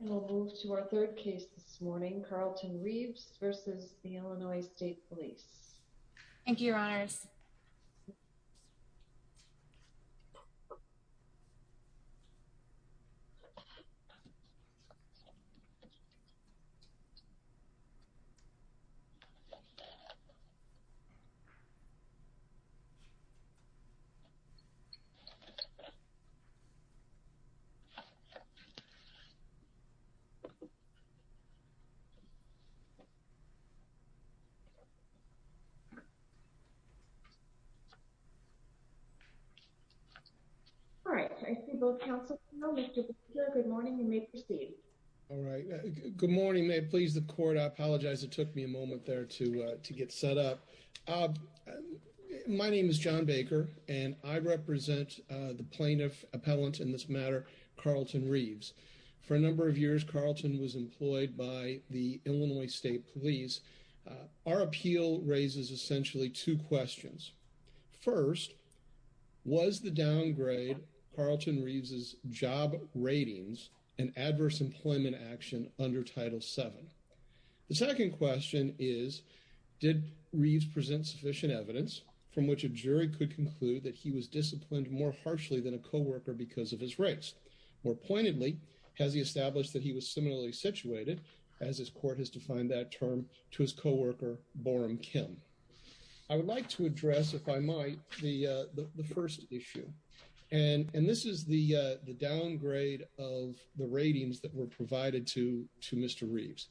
And we'll move to our third case this morning, Carlton Reives v. Illinois State Police. All right, I see both counsels are here. Good morning, you may proceed. All right, good morning. May it please the court, I apologize it took me a moment there to get set up. My name is John Baker and I represent the plaintiff appellant in this matter, Carlton Reives. For a number of years, Carlton was employed by the Illinois State Police. Our appeal raises essentially two questions. First, was the downgrade Carlton Reives' job ratings and adverse employment action under Title VII? The second question is, did Reives present sufficient evidence from which a jury could conclude that he was disciplined more has he established that he was similarly situated, as his court has defined that term, to his co-worker, Boram Kim? I would like to address, if I might, the first issue. And this is the downgrade of the ratings that were provided to Mr. Reives.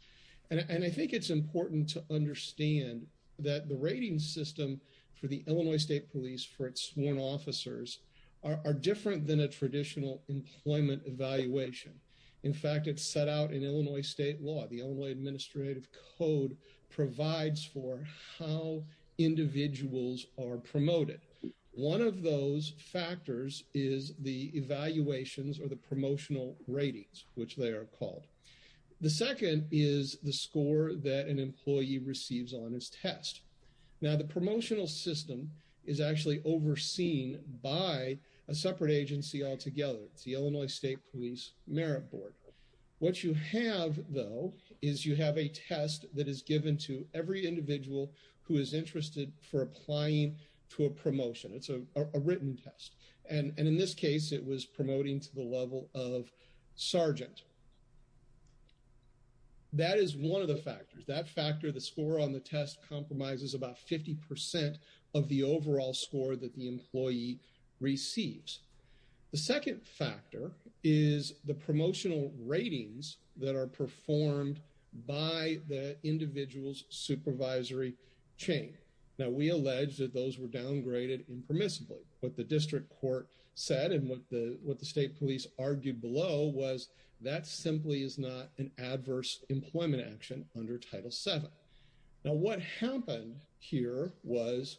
And I think it's important to understand that the rating system for the Illinois State Police for its sworn officers are different than a traditional employment evaluation. In fact, it's set out in Illinois state law. The Illinois Administrative Code provides for how individuals are promoted. One of those factors is the evaluations or the promotional ratings, which they are called. The second is the score that an employee receives on his test. Now, the promotional system is actually overseen by a separate agency altogether. It's the Illinois State Police Merit Board. What you have, though, is you have a test that is given to every individual who is interested for applying to a promotion. It's a written test. And in this case, it was promoting to the level of sergeant. That is one of the factors. That factor, the score on the test compromises about 50% of the overall score that the employee receives. The second factor is the promotional ratings that are performed by the individual's supervisory chain. Now, we allege that those were downgraded impermissibly. What the district court said and what the state police argued below was that simply is not an adverse employment action under Title VII. Now, what happened here was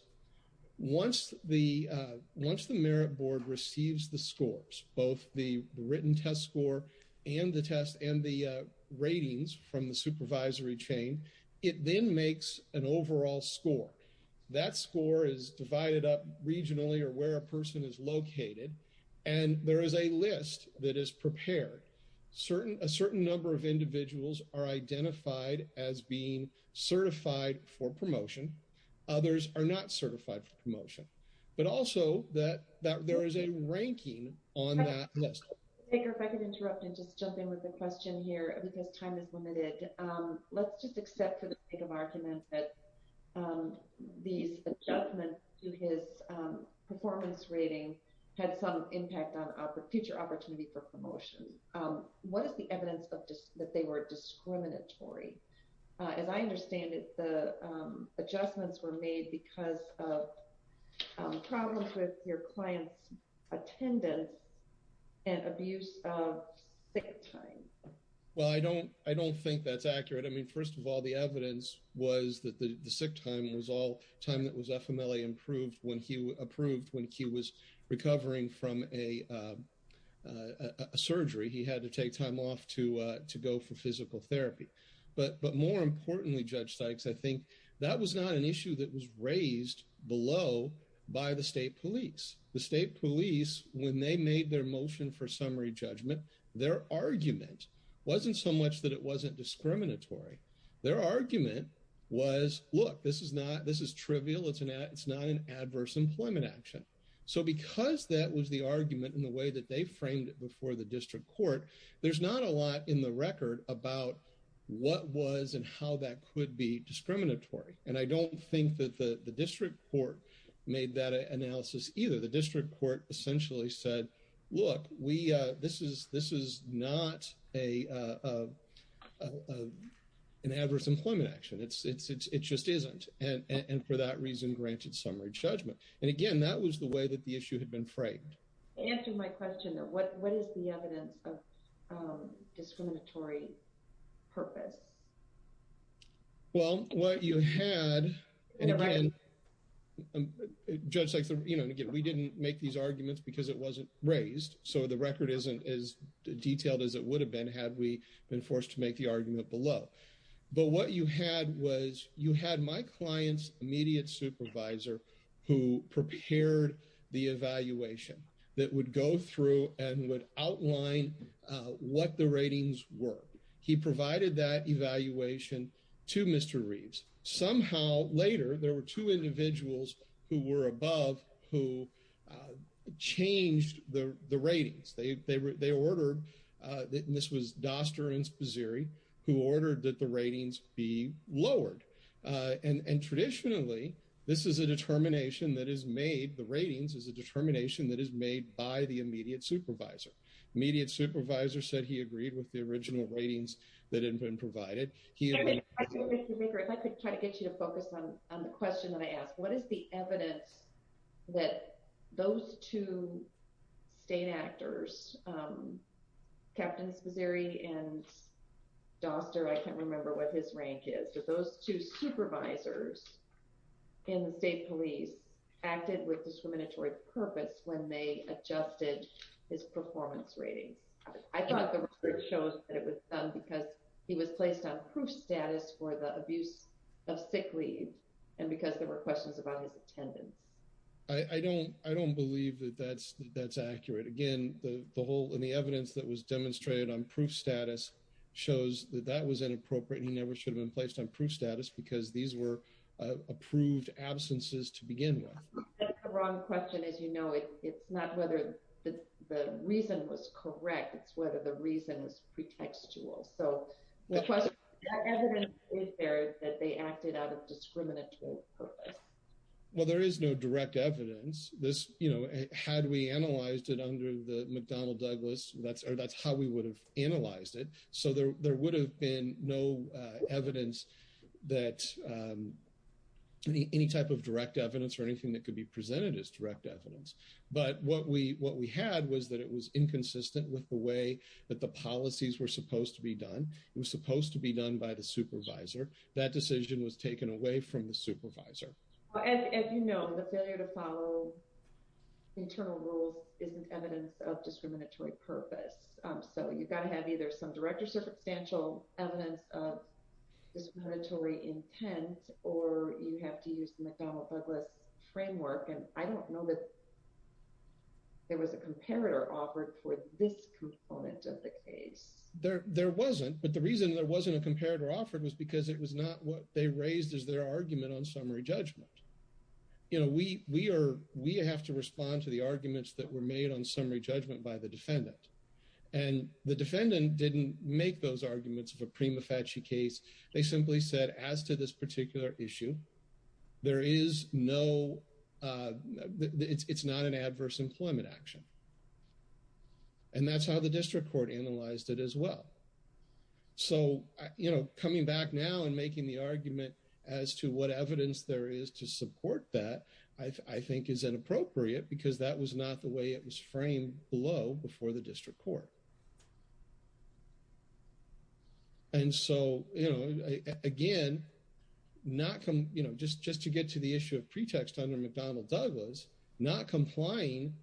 once the Merit Board receives the scores, both the written test score and the test and the ratings from the supervisory chain, it then makes an overall score. That score is divided up regionally or where a person is located. And there is a list that is prepared. A certain number of individuals are identified as being certified for promotion. Others are not certified for promotion. But also that there is a ranking on that list. If I could interrupt and just jump in with a question here because time is limited. Let's just accept for the sake of argument that these adjustments to his performance rating had some impact on future opportunity for promotion. What is the evidence that they were discriminatory? As I understand it, the adjustments were made because of problems with your client's attendance and abuse of sick time. Well, I don't think that's accurate. I mean, first of all, the evidence was that the sick time that was FMLA approved when he was recovering from a surgery. He had to take time off to go for physical therapy. But more importantly, Judge Sykes, I think that was not an issue that was raised below by the state police. The state police, when they made their motion for summary judgment, their argument wasn't so much that it wasn't discriminatory. Their argument was, look, this is trivial. It's not an adverse employment action. So because that was the argument in the way that they framed it before the district court, there's not a lot in the record about what was and how that could be discriminatory. And I don't think that the district court made that analysis either. The district court essentially said, look, this is not an adverse employment action. It just isn't. And for that reason, granted summary judgment. And again, that was the way that the issue had been framed. To answer my question, though, what is the evidence of because it wasn't raised. So the record isn't as detailed as it would have been had we been forced to make the argument below. But what you had was you had my client's immediate supervisor who prepared the evaluation that would go through and would outline what the ratings were. He provided that evaluation to Mr. Reeves. Somehow later, there were two individuals who were above who changed the ratings. They ordered that this was Doster and Sposiri who ordered that the ratings be lowered. And traditionally, this is a determination that is made. The ratings is a determination that is made by the immediate supervisor. Immediate supervisor said he agreed with the original ratings that had been provided. If I could try to get you to focus on the question that I asked, what is the evidence that those two state actors, Capt. Sposiri and Doster, I can't remember what his range is, but those two supervisors in the state police acted with discriminatory purpose when they adjusted his performance ratings. I thought the record shows that it was because he was placed on proof status for the because there were questions about his attendance. I don't believe that that's accurate. Again, the evidence that was demonstrated on proof status shows that that was inappropriate. He never should have been placed on proof status because these were approved absences to begin with. That's the wrong question. As you know, it's not whether the reason was correct. It's whether the reason was pretextual. So the question is, is there that they acted out of discriminatory purpose? Well, there is no direct evidence. This, you know, had we analyzed it under the McDonnell-Douglas, that's how we would have analyzed it. So there would have been no evidence that any type of direct evidence or anything that could be presented as direct evidence. But what we had was that it was inconsistent with the way that the policies were supposed to be done. It was supposed to be done by the supervisor. That decision was taken away from the supervisor. As you know, the failure to follow internal rules isn't evidence of discriminatory purpose. So you've got to have either some direct or substantial evidence of discriminatory intent, or you have to use the McDonnell-Douglas framework. And I don't know that there was a comparator offered for this component of the case. There wasn't, but the reason there wasn't a comparator offered was because it was not what they raised as their argument on summary judgment. You know, we have to respond to the arguments that were made on summary judgment by the defendant. And the defendant didn't make those arguments of a prima facie case. They simply said, as to this particular issue, it's not an adverse employment action. And that's how the district court analyzed it as well. So, you know, coming back now and making the argument as to what evidence there is to support that, I think, is inappropriate because that was not the way it was framed below before the district court. And so, you know, again, just to get to the issue of pretext under McDonnell-Douglas, not complying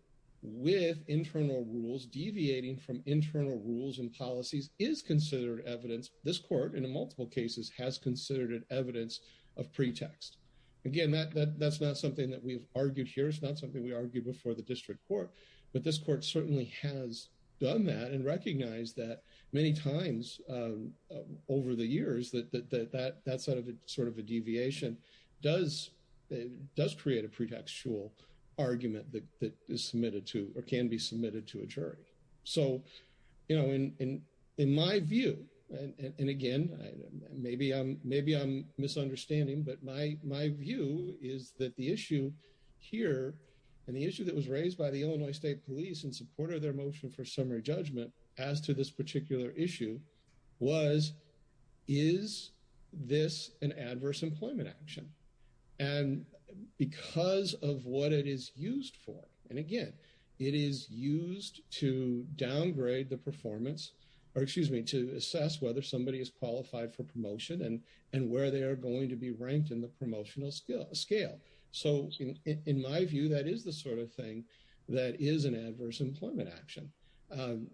with internal rules, deviating from internal rules and policies, is considered evidence. This court, in multiple cases, has considered it evidence of pretext. Again, that's not something that we've argued here. It's not something we argued before the district court. But this court certainly has done that and recognized that many times over the years, that sort of a deviation does create a pretextual argument that can be submitted to a jury. So, you know, in my view, and again, maybe I'm misunderstanding, but my view is that the issue here and the issue that was raised by the Illinois State Police in support of their motion for the case is that this is an adverse employment action. And because of what it is used for, and again, it is used to downgrade the performance or excuse me, to assess whether somebody is qualified for promotion and where they are going to be ranked in the promotional scale. So in my view, that is the sort of thing that is an adverse employment action. And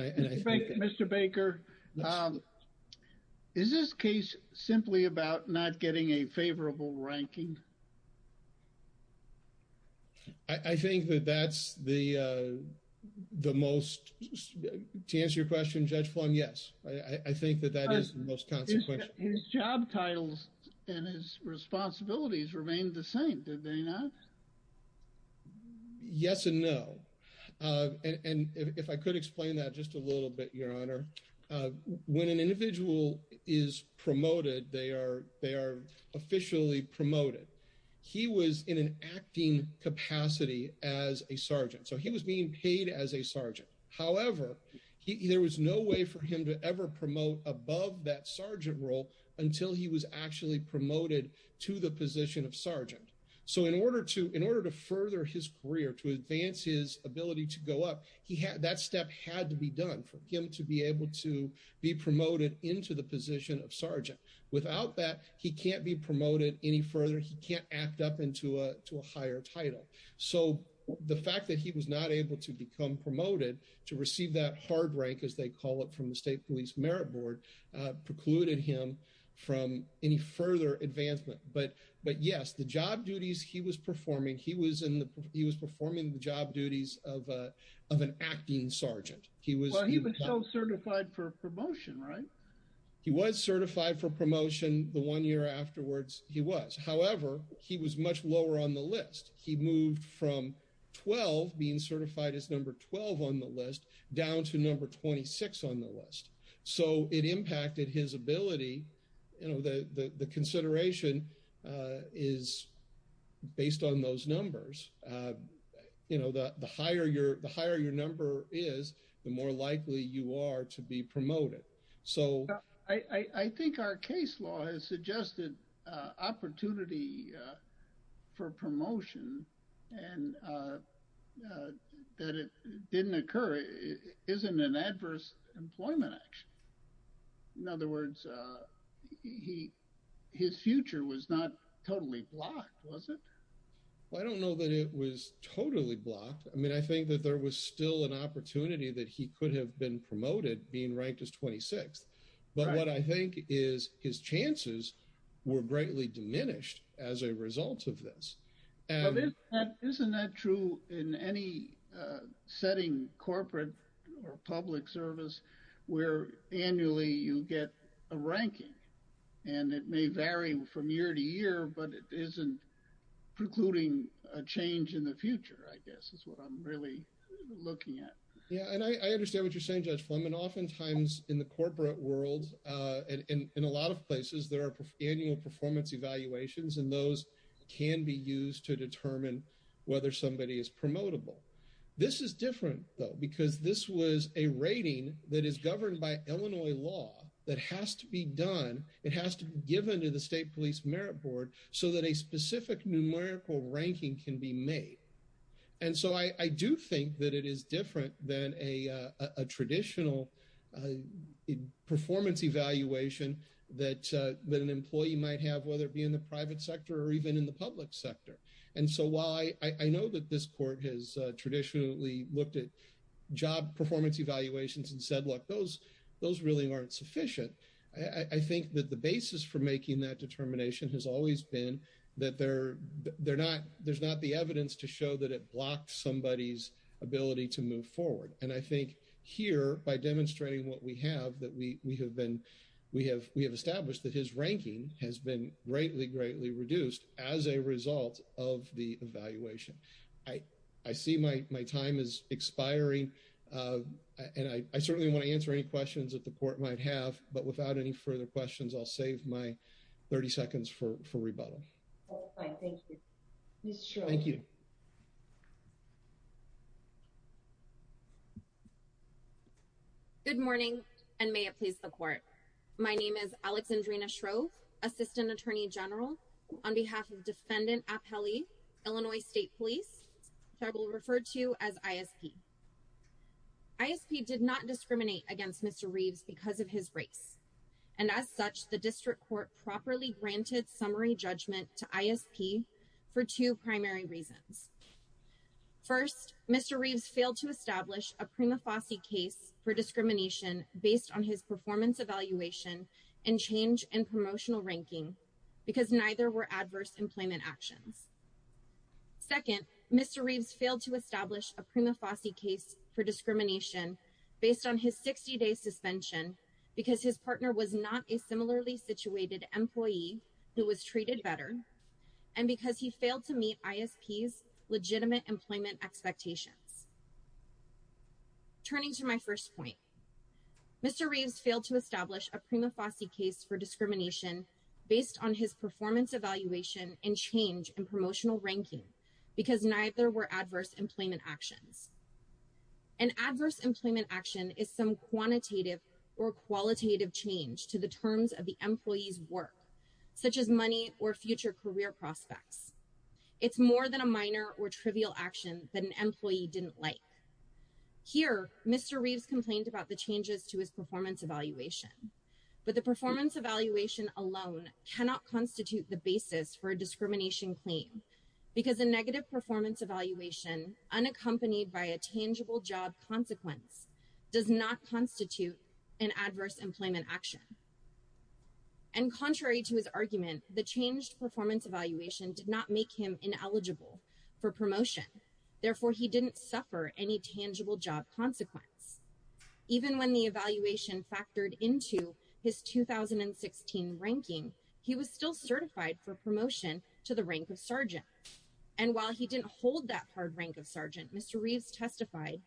I think Mr. Baker, is this case simply about not getting a favorable ranking? I think that that's the most, to answer your question, Judge Flan, yes. I think that that is the most consequential. His job titles and his responsibilities remained the same, did they not? Yes and no. And if I could explain that just a little bit, Your Honor. When an individual is promoted, they are officially promoted. He was in an acting capacity as a sergeant. So he was being paid as a sergeant. However, there was no way for him to ever promote above that sergeant role until he was actually promoted to the position of sergeant. So in order to further his career, to advance his ability to go up, that step had to be done for him to be able to be promoted into the position of sergeant. Without that, he can't be promoted any further. He can't act up into a higher title. So the fact that he was not able to become promoted to receive that hard rank, as they call it from the State Police Merit Board, precluded him from any further advancement. But yes, the job duties he was performing, he was performing the job duties of an acting sergeant. Well, he was still certified for promotion, right? He was certified for promotion the one year afterwards, he was. However, he was much lower on the list. He moved from 12, being certified as number 12 on the list, down to number 26 on the list. So it impacted his ability, you know, the consideration is based on those numbers. You know, the higher your number is, the more likely you are to be promoted. So I think our case law has suggested opportunity for promotion, and that it didn't occur, isn't an adverse employment action. In other words, his future was not totally blocked, was it? Well, I don't know that it was totally blocked. I mean, he could have been promoted being ranked as 26. But what I think is his chances were greatly diminished as a result of this. Isn't that true in any setting, corporate or public service, where annually you get a ranking? And it may vary from year to year, but it isn't precluding a change in the future, I guess, is what I'm really looking at. Yeah, and I understand what you're saying, Judge Fleming. Oftentimes in the corporate world, and in a lot of places, there are annual performance evaluations, and those can be used to determine whether somebody is promotable. This is different, though, because this was a rating that is governed by Illinois law that has to be done. It has to be given to the State Police Merit Board so that a specific numerical ranking can be made. And so I do think that it is different than a traditional performance evaluation that an employee might have, whether it be in the private sector or even in the public sector. And so while I know that this court has traditionally looked at job performance evaluations and said, look, those really aren't sufficient, I think that the basis for making that determination has always been that there's not the evidence to show that it blocked somebody's ability to move forward. And I think here, by demonstrating what we have, we have established that his ranking has been greatly, greatly reduced as a result of the evaluation. I see my time is expiring, and I certainly want to answer any questions that the court might have, but without any further questions, I'll save my 30 seconds for rebuttal. All right, thank you. Ms. Shrove. Thank you. Good morning, and may it please the court. My name is Alexandrina Shrove, Assistant Attorney General on behalf of Defendant Apelli, Illinois State Police, which I will refer to as ISP. ISP did not discriminate against Mr. Reeves because of his race, and as such, the district court properly granted summary judgment to ISP for two primary reasons. First, Mr. Reeves failed to establish a prima facie case for discrimination based on his performance evaluation and change in promotional ranking because neither were adverse employment actions. Second, Mr. Reeves failed to establish a prima facie case for discrimination based on his 60-day suspension because his partner was not a similarly situated employee who was treated better, and because he failed to meet ISP's legitimate employment expectations. Turning to my first point, Mr. Reeves failed to establish a prima facie case for discrimination based on his performance evaluation and change in promotional ranking because neither were adverse employment actions. An adverse employment action is some quantitative or qualitative change to the terms of the employee's work, such as money or future career prospects. It's more than a minor or trivial action that an employee didn't like. Here, Mr. Reeves complained about the changes to his performance evaluation, but the performance evaluation alone cannot constitute the basis for a discrimination claim because a negative performance evaluation unaccompanied by a tangible job consequence does not constitute an adverse employment action. And contrary to his argument, the changed performance evaluation did not make him ineligible for promotion. Therefore, he didn't suffer any tangible job consequence. Even when the evaluation factored into his 2016 ranking, he was still certified for promotion to the rank of sergeant. And while he didn't hold that hard rank of sergeant, Mr. Reeves testified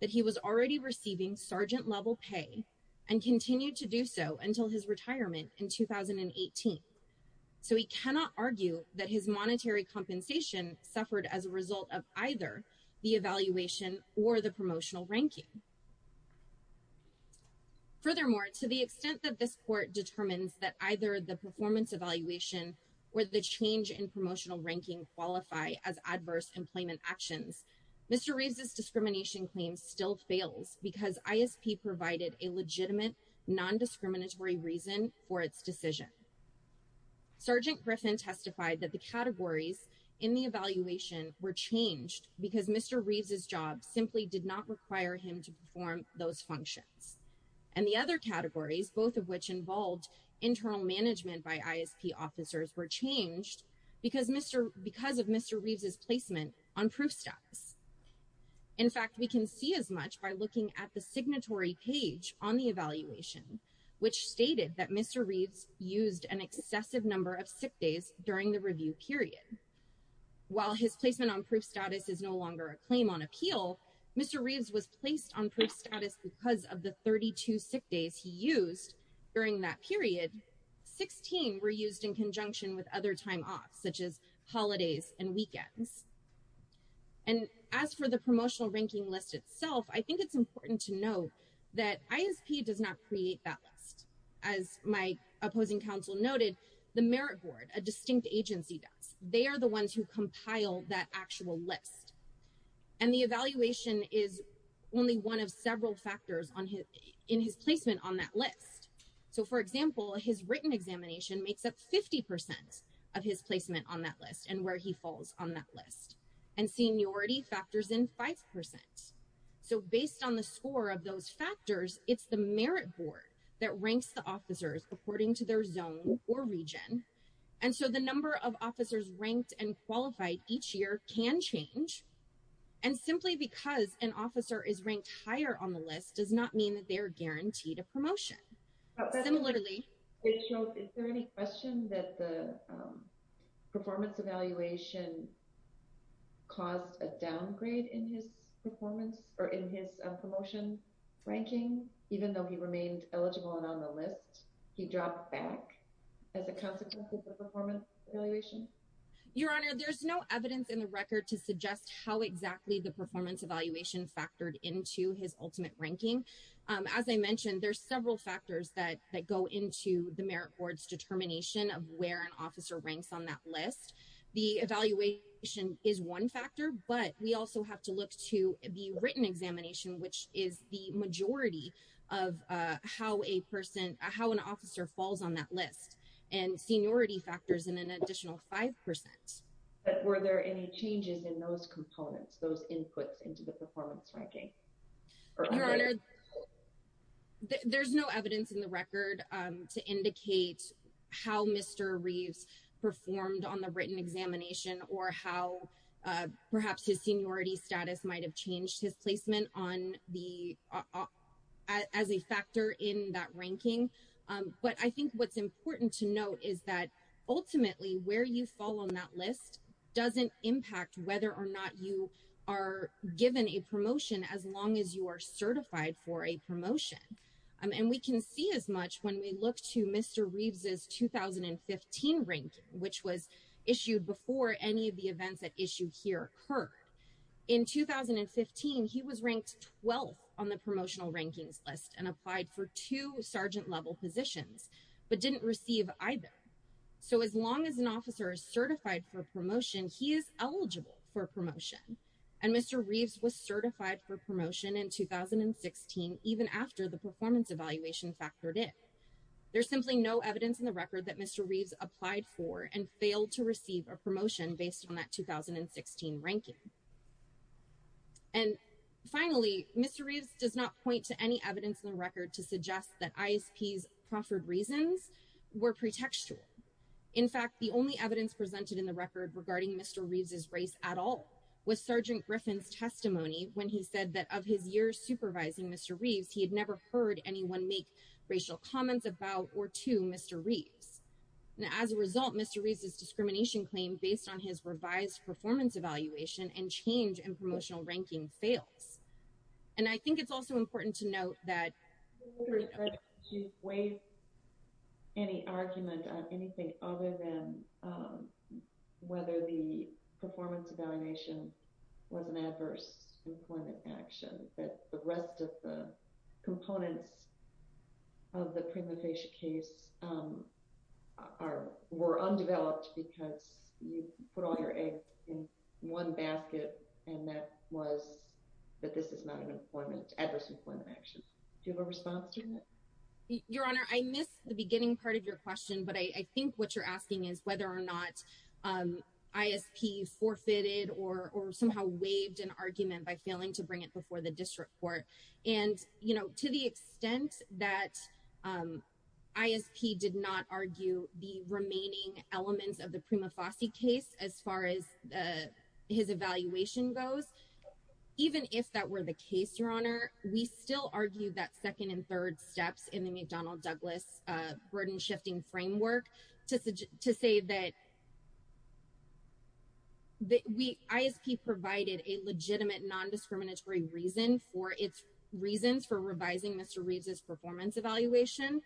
that he was already receiving sergeant-level pay and continued to do so until his retirement in 2018. So he cannot argue that his monetary compensation suffered as a result of either the evaluation or the promotional ranking. Furthermore, to the extent that this court determines that either the performance evaluation or the change in promotional ranking qualify as adverse employment actions, Mr. Reeves' discrimination claims still fails because ISP provided a legitimate non-discriminatory reason for its decision. Sergeant Griffin testified that the categories in the evaluation were changed because Mr. Reeves' job simply did not require him to perform those functions. And the other categories, both of which involved internal management by ISP officers, were changed because of Mr. Reeves' placement on proof status. In fact, we can see as much by looking at the signatory page on the evaluation, which stated that Mr. Reeves used an excessive number of sick on appeal. Mr. Reeves was placed on proof status because of the 32 sick days he used during that period. Sixteen were used in conjunction with other time off, such as holidays and weekends. And as for the promotional ranking list itself, I think it's important to note that ISP does not create that list. As my opposing counsel noted, the merit board, a distinct agency does. They are the ones who compile that actual list. And the evaluation is only one of several factors in his placement on that list. So, for example, his written examination makes up 50% of his placement on that list and where he falls on that list. And seniority factors in 5%. So, based on the score of those factors, it's the merit board that ranks the officers according to their zone or region. And so, the number of officers ranked and qualified each year can change. And simply because an officer is ranked higher on the list does not mean that they're guaranteed a promotion. Similarly, it shows, is there any question that the performance evaluation caused a downgrade in his performance or in his promotion ranking, even though he remained eligible and on the list, he dropped back as a consequence of the performance evaluation? Your Honor, there's no evidence in the record to suggest how exactly the performance evaluation factored into his ultimate ranking. As I mentioned, there's several factors that go into the merit board's determination of where an officer ranks on that list. The evaluation is one factor, but we also have to look to the written examination, which is the of how a person, how an officer falls on that list and seniority factors in an additional 5%. But were there any changes in those components, those inputs into the performance ranking? Your Honor, there's no evidence in the record to indicate how Mr. Reeves performed on the written examination or how perhaps his seniority status might have changed his placement on the as a factor in that ranking. But I think what's important to note is that ultimately where you fall on that list doesn't impact whether or not you are given a promotion as long as you are certified for a promotion. And we can see as much when we look to Mr. Reeves' 2015 ranking, which was issued before any of the events at issue here occurred. In 2015, he was ranked 12th on the promotional rankings list and applied for two sergeant level positions, but didn't receive either. So as long as an officer is certified for a promotion, he is eligible for a promotion. And Mr. Reeves was certified for promotion in 2016, even after the performance evaluation factored in. There's simply no evidence in the record that Mr. Reeves applied for and finally, Mr. Reeves does not point to any evidence in the record to suggest that ISP's proffered reasons were pretextual. In fact, the only evidence presented in the record regarding Mr. Reeves' race at all was Sergeant Griffin's testimony when he said that of his years supervising Mr. Reeves, he had never heard anyone make racial comments about or to Mr. Reeves. As a result, Mr. Reeves' discrimination claim based on his revised performance evaluation and change in promotional ranking fails. And I think it's also important to note that you weigh any argument on anything other than whether the performance evaluation was an adverse employment action, that the rest of the components of the prima facie case are, were undeveloped because you put all your eggs in one basket and that was, that this is not an employment, adverse employment action. Do you have a response to that? Your Honor, I missed the beginning part of your question, but I think what you're asking is whether or not ISP forfeited or somehow waived an argument by failing to bring it before the the remaining elements of the prima facie case as far as his evaluation goes. Even if that were the case, your Honor, we still argue that second and third steps in the McDonnell Douglas burden shifting framework to say that ISP provided a legitimate non-discriminatory reason for its reasons for revising Mr. Reeves' performance evaluation.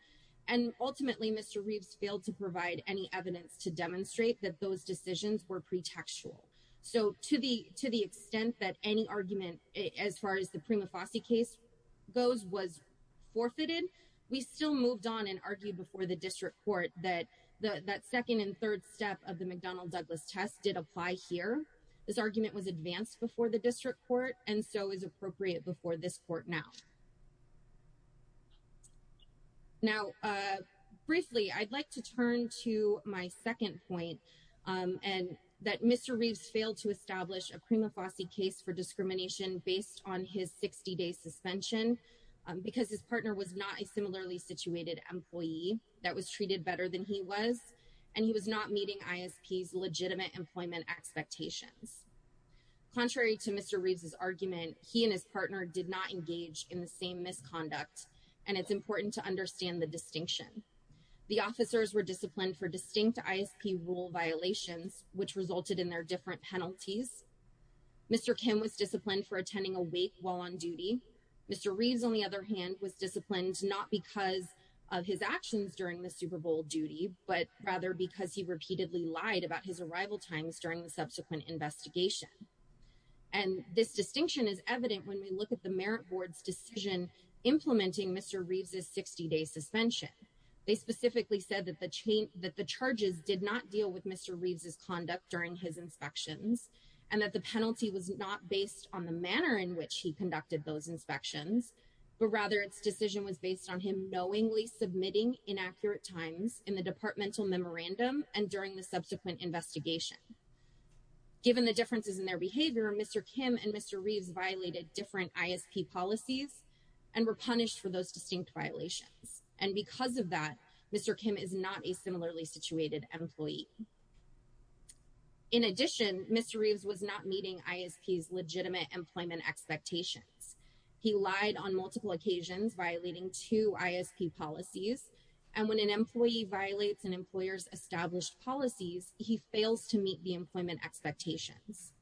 And ultimately, Mr. Reeves failed to provide any evidence to demonstrate that those decisions were pretextual. So to the, to the extent that any argument as far as the prima facie case goes was forfeited, we still moved on and argued before the district court that the, that second and third step of the McDonnell Douglas test did apply here. This argument was advanced before the district court. And so is appropriate before this court now. Now, briefly, I'd like to turn to my second point and that Mr. Reeves failed to establish a prima facie case for discrimination based on his 60 day suspension because his partner was not a similarly situated employee that was treated better than he was. And he was not meeting ISP's legitimate employment expectations. Contrary to Mr. Reeves' argument, he and his partner did not engage in the same misconduct. And it's important to understand the distinction. The officers were disciplined for distinct ISP rule violations, which resulted in their different penalties. Mr. Kim was disciplined for attending a wake while on duty. Mr. Reeves, on the other hand, was disciplined not because of his actions during the Super Bowl duty, but rather because he repeatedly lied about his arrival times during subsequent investigation. And this distinction is evident when we look at the Merit Board's decision implementing Mr. Reeves' 60 day suspension. They specifically said that the charges did not deal with Mr. Reeves' conduct during his inspections and that the penalty was not based on the manner in which he conducted those inspections, but rather its decision was based on him knowingly submitting inaccurate times in the departmental memorandum and during the subsequent investigation. Given the differences in their behavior, Mr. Kim and Mr. Reeves violated different ISP policies and were punished for those distinct violations. And because of that, Mr. Kim is not a similarly situated employee. In addition, Mr. Reeves was not meeting ISP's legitimate employment expectations. He lied on multiple occasions, violating two ISP policies. And when an employee violates an employer's established policies, he fails to meet the employment expectations.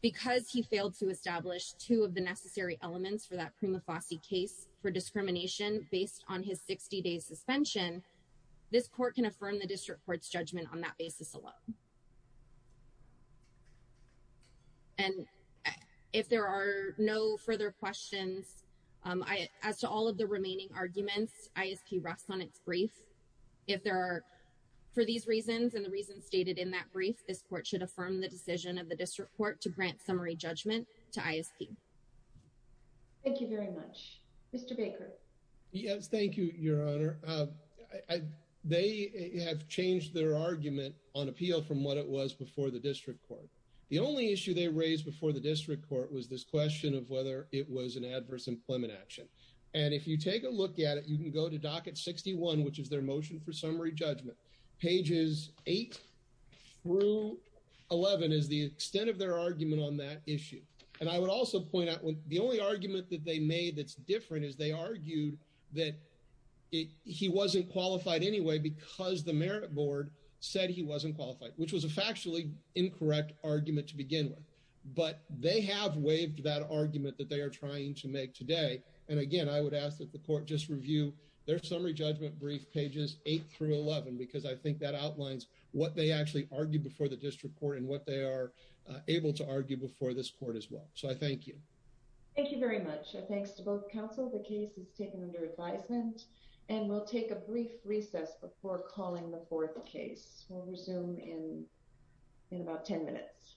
Because he failed to establish two of the necessary elements for that prima facie case for discrimination based on his 60 day suspension, this court can affirm the district court's judgment on that basis alone. And if there are no further questions, as to all of the remaining arguments, ISP rests on its brief. If there are, for these reasons, and the reasons stated in that brief, this court should affirm the decision of the district court to grant summary judgment to ISP. Thank you very much. Mr. Baker. Yes, thank you, Your Honor. They have changed their argument on appeal from what it was before the district court. The only issue they raised before the district court was this question of it was an adverse employment action. And if you take a look at it, you can go to docket 61, which is their motion for summary judgment. Pages 8 through 11 is the extent of their argument on that issue. And I would also point out, the only argument that they made that's different is they argued that he wasn't qualified anyway, because the merit board said he wasn't qualified, which was a factually incorrect argument to begin with. But they have waived that argument that they are trying to make today. And again, I would ask that the court just review their summary judgment brief pages 8 through 11, because I think that outlines what they actually argued before the district court and what they are able to argue before this court as well. So I thank you. Thank you very much. Thanks to both counsel. The case is taken under advisement, and we'll take a brief recess before calling the fourth case. We'll resume in about 10 minutes.